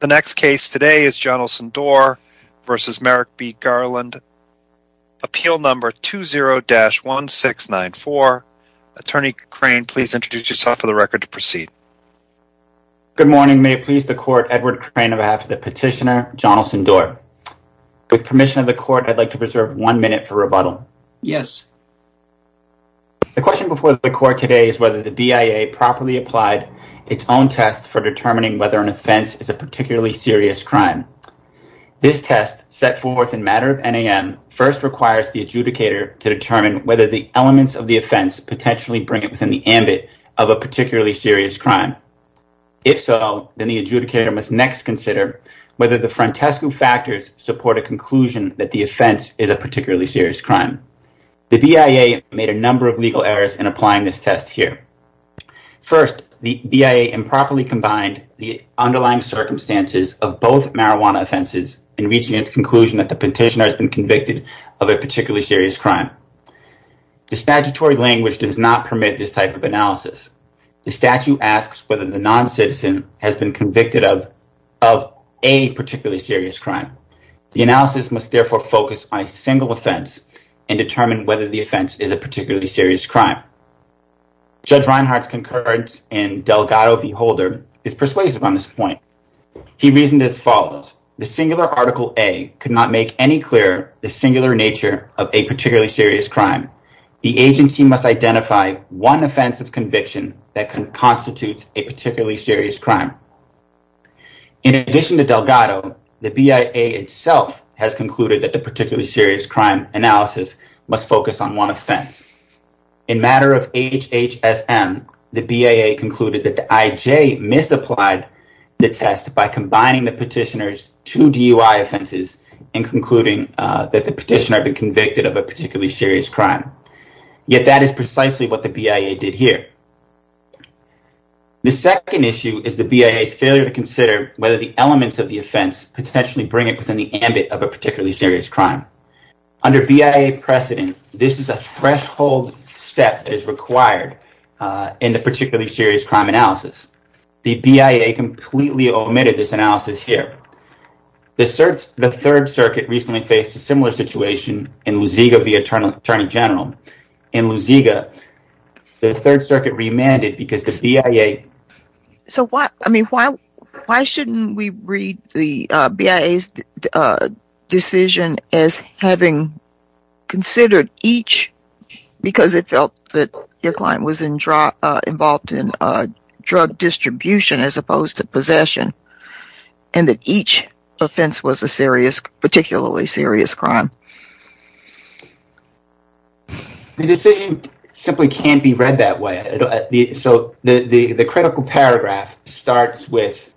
The next case today is Jonelson-Dore v. Merrick B. Garland, appeal number 20-1694. Attorney Crane, please introduce yourself for the record to proceed. Good morning. May it please the court, Edward Crane on behalf of the petitioner Jonelson-Dore. With permission of the court, I'd like to preserve one minute for rebuttal. Yes. The question before the court today is whether the BIA properly applied its own test for determining whether an offense is a particularly serious crime. This test, set forth in matter of NAM, first requires the adjudicator to determine whether the elements of the offense potentially bring it within the ambit of a particularly serious crime. If so, then the adjudicator must next consider whether the frontescue factors support a conclusion that the offense is a particularly serious crime. The BIA made a number of legal errors in applying this test here. First, the BIA improperly combined the underlying circumstances of both marijuana offenses in reaching its conclusion that the petitioner has been convicted of a particularly serious crime. The statutory language does not permit this type of analysis. The statute asks whether the non-citizen has been convicted of a particularly serious crime. The analysis must therefore focus on a single offense and determine whether the offense is particularly serious crime. Judge Reinhart's concurrence in Delgado v. Holder is persuasive on this point. He reasoned as follows, the singular article A could not make any clearer the singular nature of a particularly serious crime. The agency must identify one offense of conviction that constitutes a particularly serious crime. In addition to Delgado, the BIA itself has in matter of HHSM, the BIA concluded that the IJ misapplied the test by combining the petitioner's two DUI offenses and concluding that the petitioner had been convicted of a particularly serious crime. Yet, that is precisely what the BIA did here. The second issue is the BIA's failure to consider whether the elements of the offense potentially bring it within the ambit of a step that is required in the particularly serious crime analysis. The BIA completely omitted this analysis here. The third circuit recently faced a similar situation in Luziga v. Attorney General. In Luziga, the third circuit remanded because the BIA... because it felt that your client was involved in drug distribution as opposed to possession and that each offense was a particularly serious crime. The decision simply can't be read that way. So, the critical paragraph starts with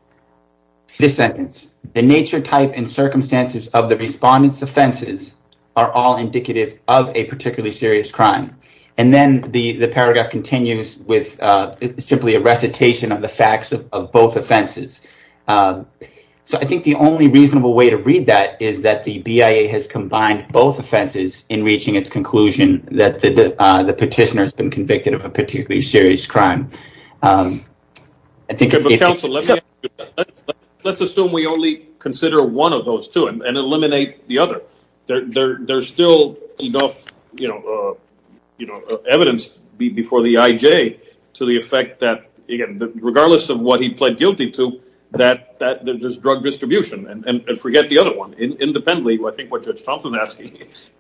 this sentence, the nature, type, and circumstances of the respondent's offenses are all indicative of a particularly serious crime. Then, the paragraph continues with simply a recitation of the facts of both offenses. So, I think the only reasonable way to read that is that the BIA has combined both offenses in reaching its conclusion that the petitioner has been convicted of a particularly serious crime. I think... Let's assume we only consider one of those two and eliminate the other. There's still enough, you know, evidence before the IJ to the effect that, again, regardless of what he pled guilty to, that there's drug distribution and forget the other one. Independently, I think what Judge Thompson is asking is,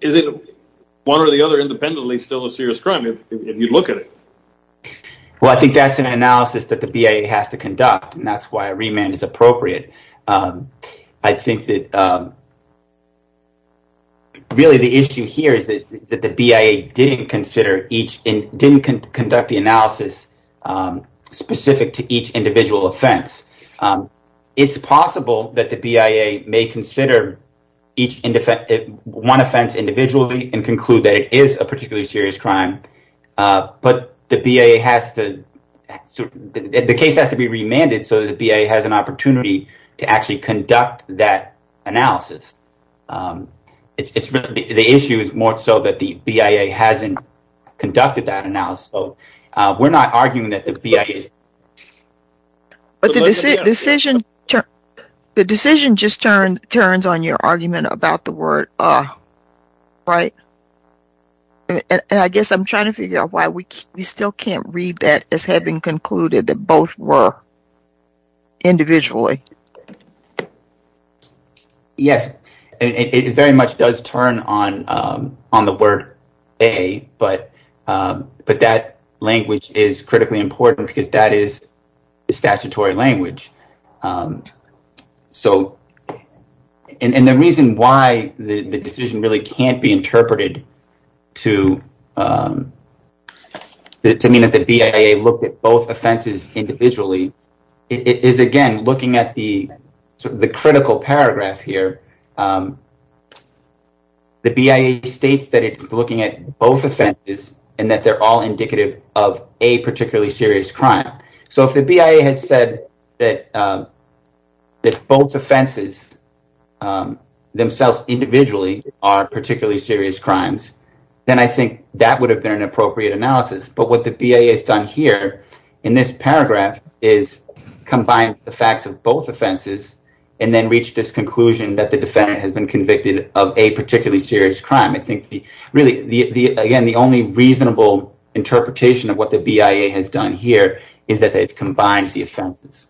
is it one or the other independently still a serious crime if you look at it? Well, I think that's an analysis that the BIA has to conduct and that's why a remand is appropriate. I think that really the issue here is that the BIA didn't consider each and didn't conduct the analysis specific to each individual offense. It's possible that the BIA may consider each one offense individually and conclude that it is a particularly serious crime, but the BIA has to... The case has to be remanded so that the BIA has an opportunity to actually conduct that analysis. The issue is more so that the BIA hasn't conducted that analysis. So, we're not arguing that the BIA is... But the decision just turns on your argument about the word, right? And I guess I'm trying to figure out why we still can't read that as having concluded that both were individually. Yes, it very much does turn on the word A, but that language is critically important because that is the statutory language. And the reason why the decision really can't be interpreted to mean that the BIA looked at both offenses individually is, again, looking at the critical paragraph here. The BIA states that it's looking at both offenses and that they're all particularly serious crimes. So, if the BIA had said that both offenses themselves individually are particularly serious crimes, then I think that would have been an appropriate analysis. But what the BIA has done here in this paragraph is combine the facts of both offenses and then reach this conclusion that the defendant has been convicted of a particularly serious crime. I think really, again, the only reasonable interpretation of what the BIA has done here is that they've combined the offenses.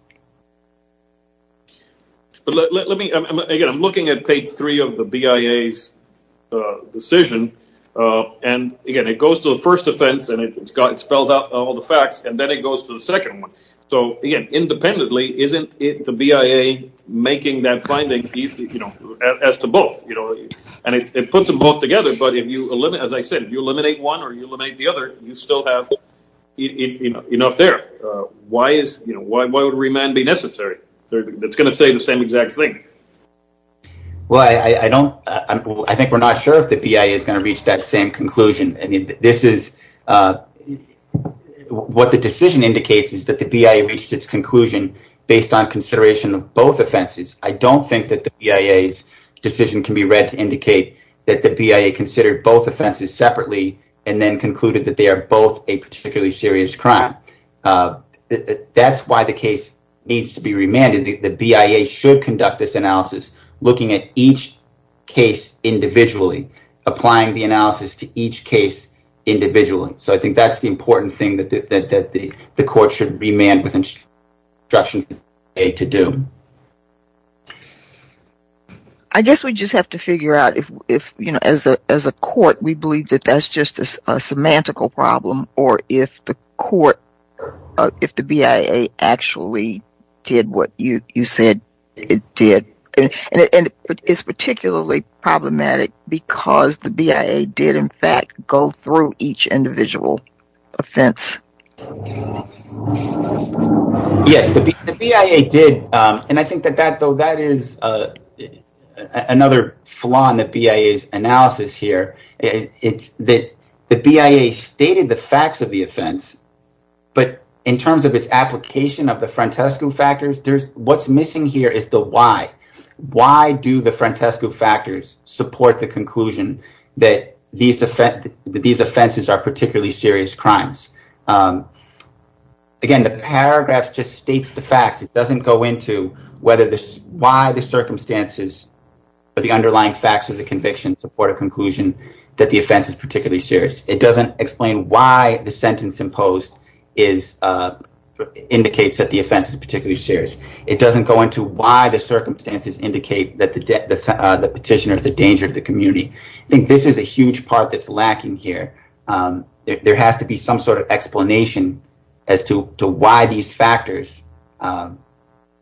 Again, I'm looking at page three of the BIA's decision and, again, it goes to the first offense and it spells out all the facts and then it goes to the second one. So, again, independently, isn't it the BIA making that finding as to both? And it puts them both together, but as I said, if you eliminate one or you eliminate the other, you still have enough there. Why would remand be necessary? It's going to say the same exact thing. Well, I think we're not sure if the BIA is going to reach that same conclusion. What the decision indicates is that the BIA reached its conclusion based on consideration of both offenses. I don't think that the BIA's decision can be read to indicate that the BIA considered both offenses separately and then concluded that they are both a particularly serious crime. That's why the case needs to be remanded. The BIA should conduct this analysis looking at each case individually, applying the analysis to each case individually. So, I think that's the important thing that the court should remand with instruction to do. I guess we just have to figure out if, you know, as a court, we believe that that's just a semantical problem or if the BIA actually did what you said it did. And it's particularly problematic because the BIA did, in fact, go through each individual offense. Yes, the BIA did. And I think that is another flaw in the BIA's analysis here. It's that the BIA stated the facts of the offense, but in terms of its application of the Frantescu factors, there's what's missing here is the why. Why do the Frantescu factors support the conclusion that these offenses are particularly serious crimes? Again, the paragraph just states the facts. It doesn't go into why the circumstances or the underlying facts of the conviction support a conclusion that the offense is particularly serious. It doesn't explain why the sentence imposed indicates that the offense is particularly serious. It doesn't go into why the circumstances indicate that the petitioner is a danger to the community. I think this is a huge part that's lacking here. There has to be some sort of explanation as to why these factors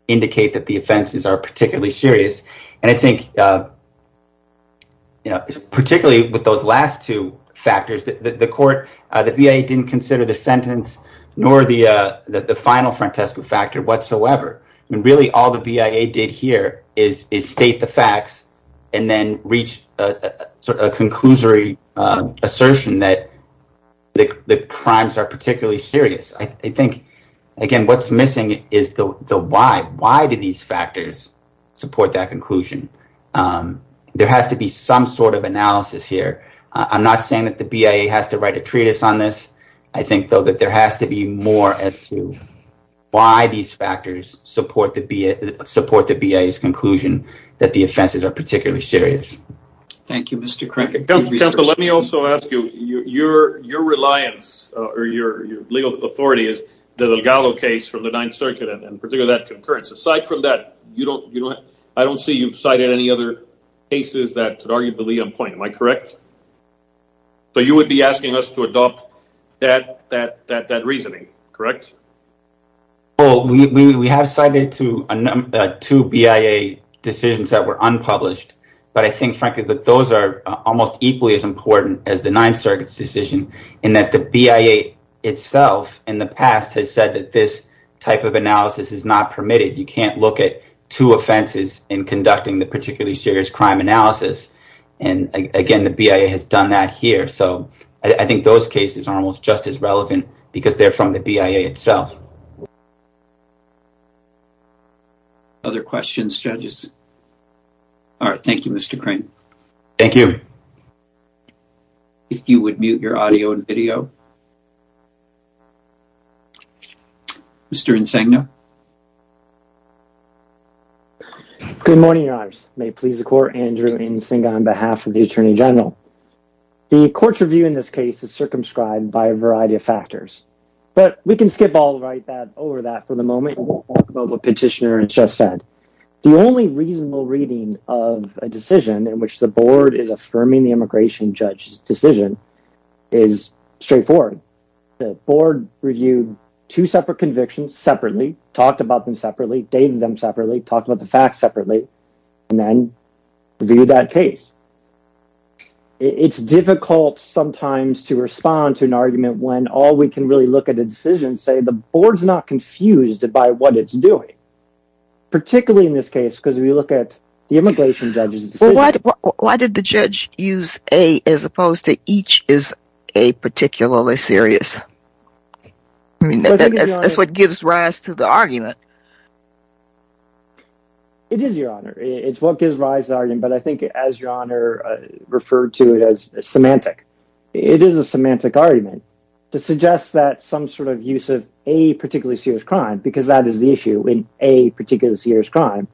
indicate that the offenses are particularly serious. And I think, you know, particularly with those last two factors, the court, the BIA didn't consider the sentence nor the final Frantescu factor whatsoever. And really all the BIA did here is state the facts and then reach a conclusory assertion that the crimes are particularly serious. I think, again, what's missing is the why. Why do these factors support that conclusion? There has to be some sort of analysis here. I'm not saying that the BIA has to write a treatise on this. I think, though, there has to be more as to why these factors support the BIA's conclusion that the offenses are particularly serious. Thank you, Mr. Crackett. Counsel, let me also ask you, your reliance or your legal authority is the Legallo case from the Ninth Circuit and particularly that concurrence. Aside from that, I don't see you've cited any other cases that are arguably on point. Am I correct? So you would be asking us to adopt that reasoning, correct? Well, we have cited two BIA decisions that were unpublished. But I think, frankly, that those are almost equally as important as the Ninth Circuit's decision in that the BIA itself in the past has said that this type of analysis is not permitted. You can't look at two offenses in conducting the particularly serious crime analysis. And again, the BIA has done that here. So I think those cases are almost just as relevant because they're from the BIA itself. Other questions, judges? All right. Thank you, Mr. Crane. Thank you. If you would mute your audio and video. Mr. Insegno. Good morning, your honors. May it please the court, Andrew Insegno, on behalf of the Attorney General. The court's review in this case is circumscribed by a variety of factors. But we can skip all right over that for the moment and talk about what Petitioner has just said. The only reasonable reading of a decision in which the board is affirming the immigration judge's straightforward. The board reviewed two separate convictions separately, talked about them separately, dated them separately, talked about the facts separately, and then reviewed that case. It's difficult sometimes to respond to an argument when all we can really look at a decision and say the board's not confused by what it's doing, particularly in this case because we look at the immigration judge's decision. Why did the judge use a as opposed to each is a particularly serious? That's what gives rise to the argument. It is, your honor. It's what gives rise to the argument, but I think as your honor referred to it as semantic. It is a semantic argument to suggest that some sort of use of a particularly serious crime, because that is the issue in a particularly serious crime,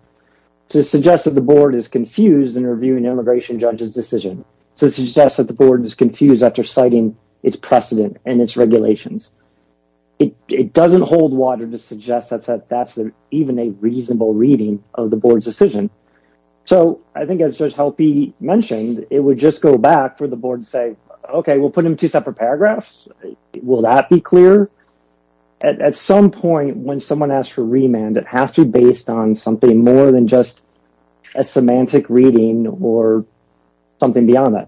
to suggest that the board is confused in reviewing immigration judge's decision, to suggest that the board is confused after citing its precedent and its regulations. It doesn't hold water to suggest that that's even a reasonable reading of the board's decision. So I think as Judge Helpe mentioned, it would just go back for the board to say, okay, we'll put them two separate paragraphs. Will that be clear? At some point when someone asks for remand, it has to be based on something more than just a semantic reading or something beyond that.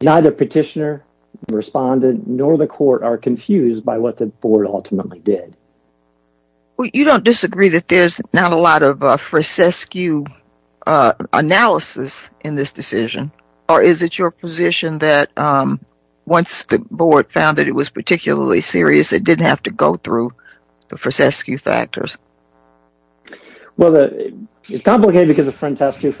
Neither petitioner, respondent, nor the court are confused by what the board ultimately did. Well, you don't disagree that there's not a lot of frasesque analysis in this decision, or is it your position that once the board found that it was particularly serious, it didn't have to go through the frasesque factors? Well, it's complicated because the frasesque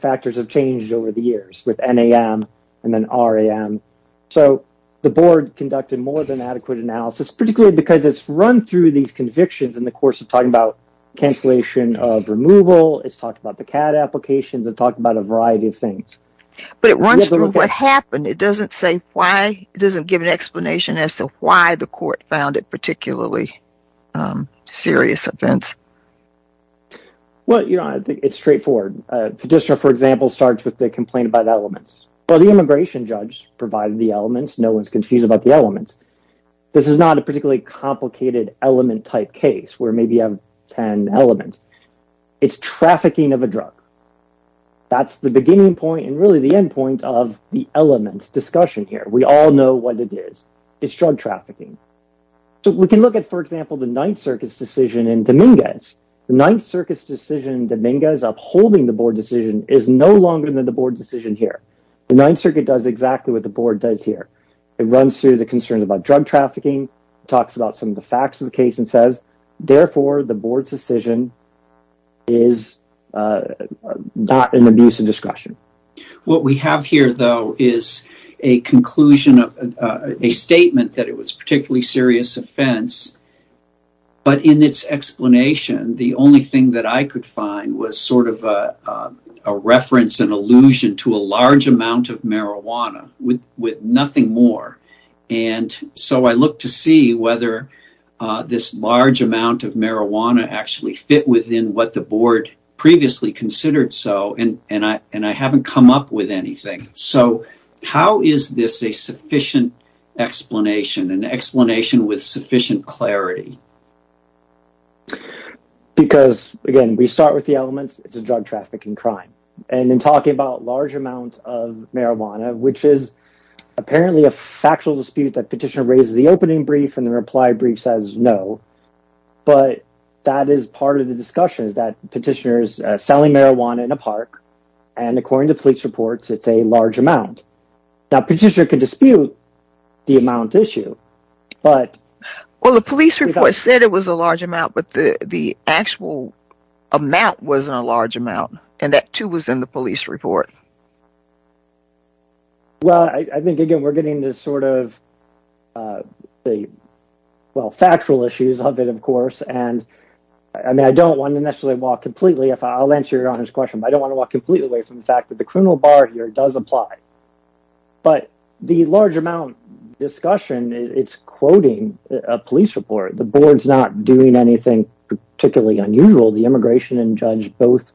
factors have changed over the years with NAM and then RAM. So the board conducted more than adequate analysis, particularly because it's run through these convictions in the course of talking about cancellation of removal, it's talked about the CAD applications, it talked about a variety of things. But it runs through what happened. It doesn't say why, it doesn't give an explanation as to why the court found it particularly serious offense. Well, it's straightforward. Petitioner, for example, starts with the complaint about elements. Well, the immigration judge provided the elements, no one's confused about the elements. This is not a particularly complicated element type case where maybe you have 10 elements. It's trafficking of a drug. That's the beginning point and really the end point of the elements discussion here. We all know what it is. It's drug trafficking. So we can look at, for example, the Ninth Circuit's decision in Dominguez. The Ninth Circuit's decision in Dominguez upholding the board decision is no longer than the board decision here. The Ninth Circuit does exactly what the board does here. It runs through the concerns about drug trafficking, talks about some of the facts of the case and says, therefore, the board's decision is not an abuse of discretion. What we have here, though, is a conclusion, a statement that it was a particularly serious offense. But in its explanation, the only thing that I could find was sort of a reference, an allusion to a large amount of marijuana with nothing more. So I looked to see whether this large amount of marijuana actually fit within what the board previously considered so. And I haven't come up with anything. So how is this a sufficient explanation, an explanation with sufficient clarity? Because, again, we start with the elements. It's a drug trafficking crime. And in talking about large amounts of marijuana, which is apparently a factual dispute that petitioner raises the opening brief and the reply brief says no. But that is part of the discussion is that petitioners selling marijuana in a park. And according to police reports, it's a large amount that petitioner could dispute the amount issue. But well, the police report said it was a large amount, but the actual amount wasn't a large amount. And that, too, was in the police report. Well, I think, again, we're getting this sort of the well factual issues of it, of course. And I mean, I don't want to necessarily walk completely I'll answer your question. I don't want to walk completely away from the fact that the criminal bar here does apply. But the large amount discussion, it's quoting a police report. The board's not doing anything particularly unusual. The immigration and judge both.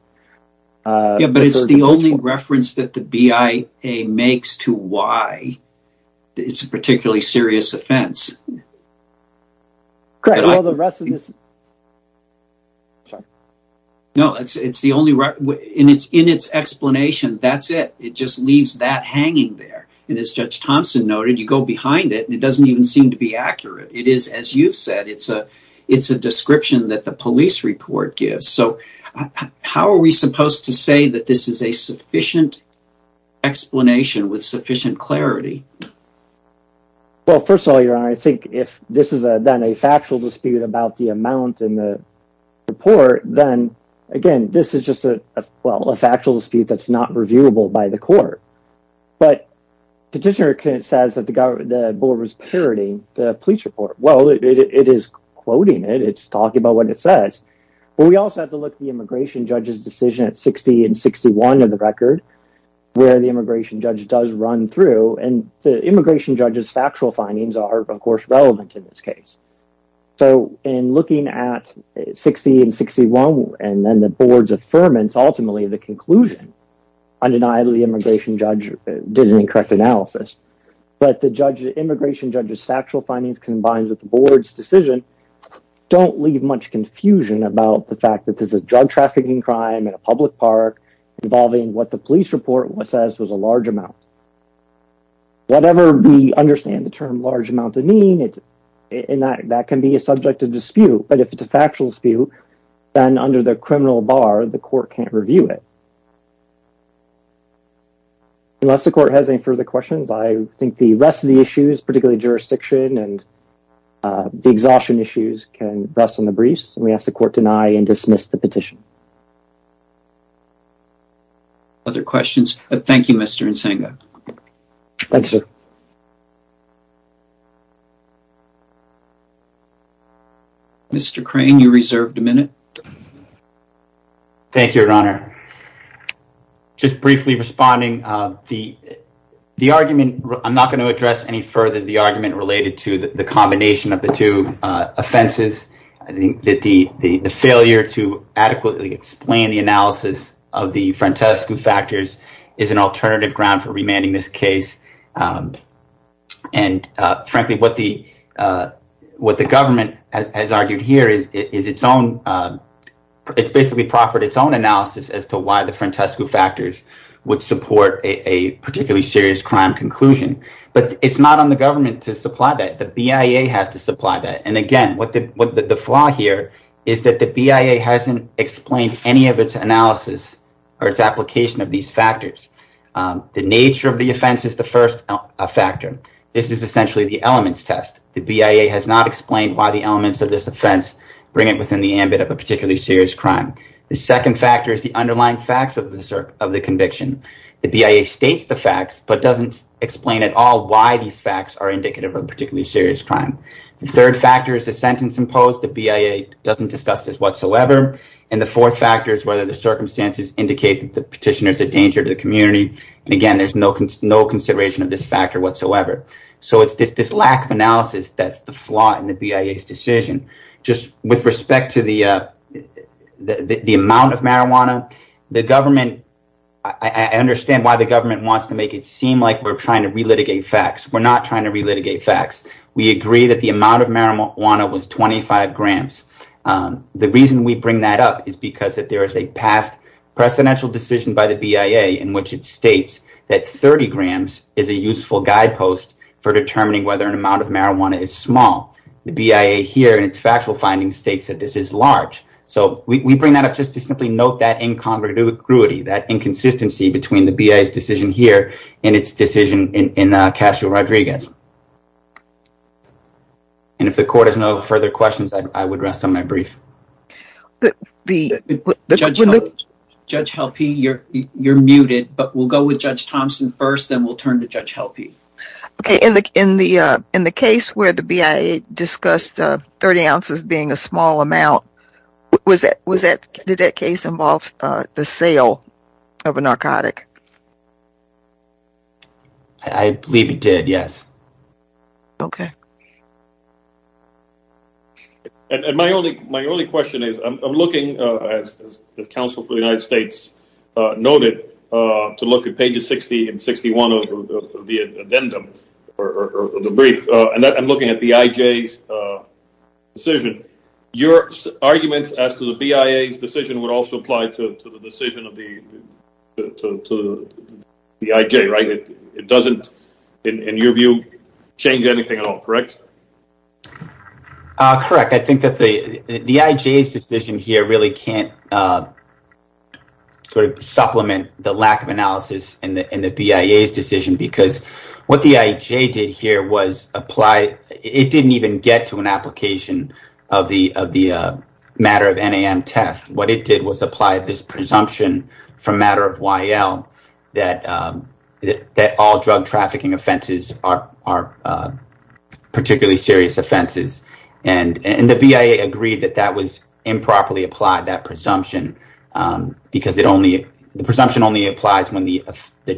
But it's the only reference that the BIA makes to why it's a particularly serious offense. Correct. All the rest of this. Sorry. No, it's the only in its explanation. That's it. It just leaves that hanging there. And as Judge Thompson noted, you go behind it and it doesn't even seem to be accurate. It is, as you've said, it's a it's a description that the police report gives. So how are we supposed to say that this is a sufficient explanation with sufficient clarity? Well, first of all, your honor, I think if this is then a factual dispute about the amount in the report, then again, this is just a well, a factual dispute that's not reviewable by the court. But petitioner says that the board was parodying the police report. Well, it is quoting it. It's talking about what it says. But we also have to look at the immigration judge's decision at 60 and 61 of the record where the immigration judge does run through. And the immigration judge's factual findings are, of course, relevant in this case. So in looking at 60 and 61 and then the board's affirmance, ultimately the conclusion undeniably immigration judge did an incorrect analysis. But the judge immigration judge's factual findings combined with the board's decision don't leave much confusion about the fact that there's a drug trafficking crime in a public park involving what the police report says was a large amount. Whatever we understand the term large amount to mean, that can be a subject of dispute. But if it's a factual dispute, then under the criminal bar, the court can't review it. Unless the court has any further questions, I think the rest of the issues, particularly jurisdiction and the exhaustion issues, can rest on the briefs. We ask the court to deny and dismiss the petition. Other questions? Thank you, Mr. Nsenga. Thank you, sir. Mr. Crane, you're reserved a minute. Thank you, Your Honor. Just briefly responding. The argument, I'm not going to address any further the argument related to the combination of the offenses. I think that the failure to adequately explain the analysis of the Frantescu factors is an alternative ground for remanding this case. And frankly, what the government has argued here is its own. It's basically proffered its own analysis as to why the Frantescu factors would support a particularly serious crime conclusion. But it's not on the government to supply that. And again, the flaw here is that the BIA hasn't explained any of its analysis or its application of these factors. The nature of the offense is the first factor. This is essentially the elements test. The BIA has not explained why the elements of this offense bring it within the ambit of a particularly serious crime. The second factor is the underlying facts of the conviction. The BIA states the facts, but doesn't explain at all why these facts are indicative of a particularly serious crime. The third factor is the sentence imposed. The BIA doesn't discuss this whatsoever. And the fourth factor is whether the circumstances indicate that the petitioner is a danger to the community. And again, there's no consideration of this factor whatsoever. So it's this lack of analysis that's the flaw in the BIA's decision. Just with respect to the amount of marijuana, I understand why the government wants to make it seem like we're trying to relitigate facts. We're not trying to relitigate facts. We agree that the amount of marijuana was 25 grams. The reason we bring that up is because there is a past precedential decision by the BIA in which it states that 30 grams is a useful guidepost for determining whether an amount of marijuana is small. The BIA here in its factual findings states that this is large. So we bring that up just to simply note that incongruity, that in its decision in Casual Rodriguez. And if the court has no further questions, I would rest on my brief. Judge Helpe, you're muted, but we'll go with Judge Thompson first, then we'll turn to Judge Helpe. Okay, in the case where the BIA discussed 30 ounces being a small amount, did that case involve the sale of a narcotic? I believe it did, yes. Okay. And my only question is, I'm looking, as the counsel for the United States noted, to look at pages 60 and 61 of the addendum, or the brief, and I'm looking at the IJ's decision. Your arguments as to the BIA's decision would also apply to the decision of the IJ, right? It doesn't, in your view, change anything at all, correct? Correct. I think that the IJ's decision here really can't sort of supplement the lack of analysis in the BIA's decision because what the IJ did here was it didn't even get to an application of the matter of NAM test. What it did was apply this presumption from matter of YL that all drug trafficking offenses are particularly serious offenses. And the BIA agreed that that was improperly applied, that presumption, because the presumption only applies when the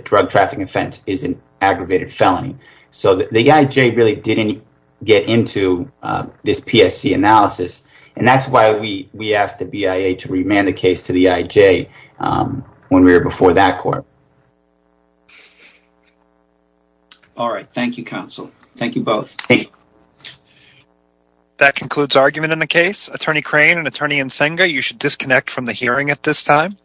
drug trafficking offense is an aggravated felony. So the IJ really didn't get into this PSC analysis, and that's why we asked the BIA to remand the case to the IJ when we were before that court. All right. Thank you, counsel. Thank you both. Thank you. That concludes argument in the case. Attorney Crane and Attorney Nsenga, you should disconnect from the hearing at this time.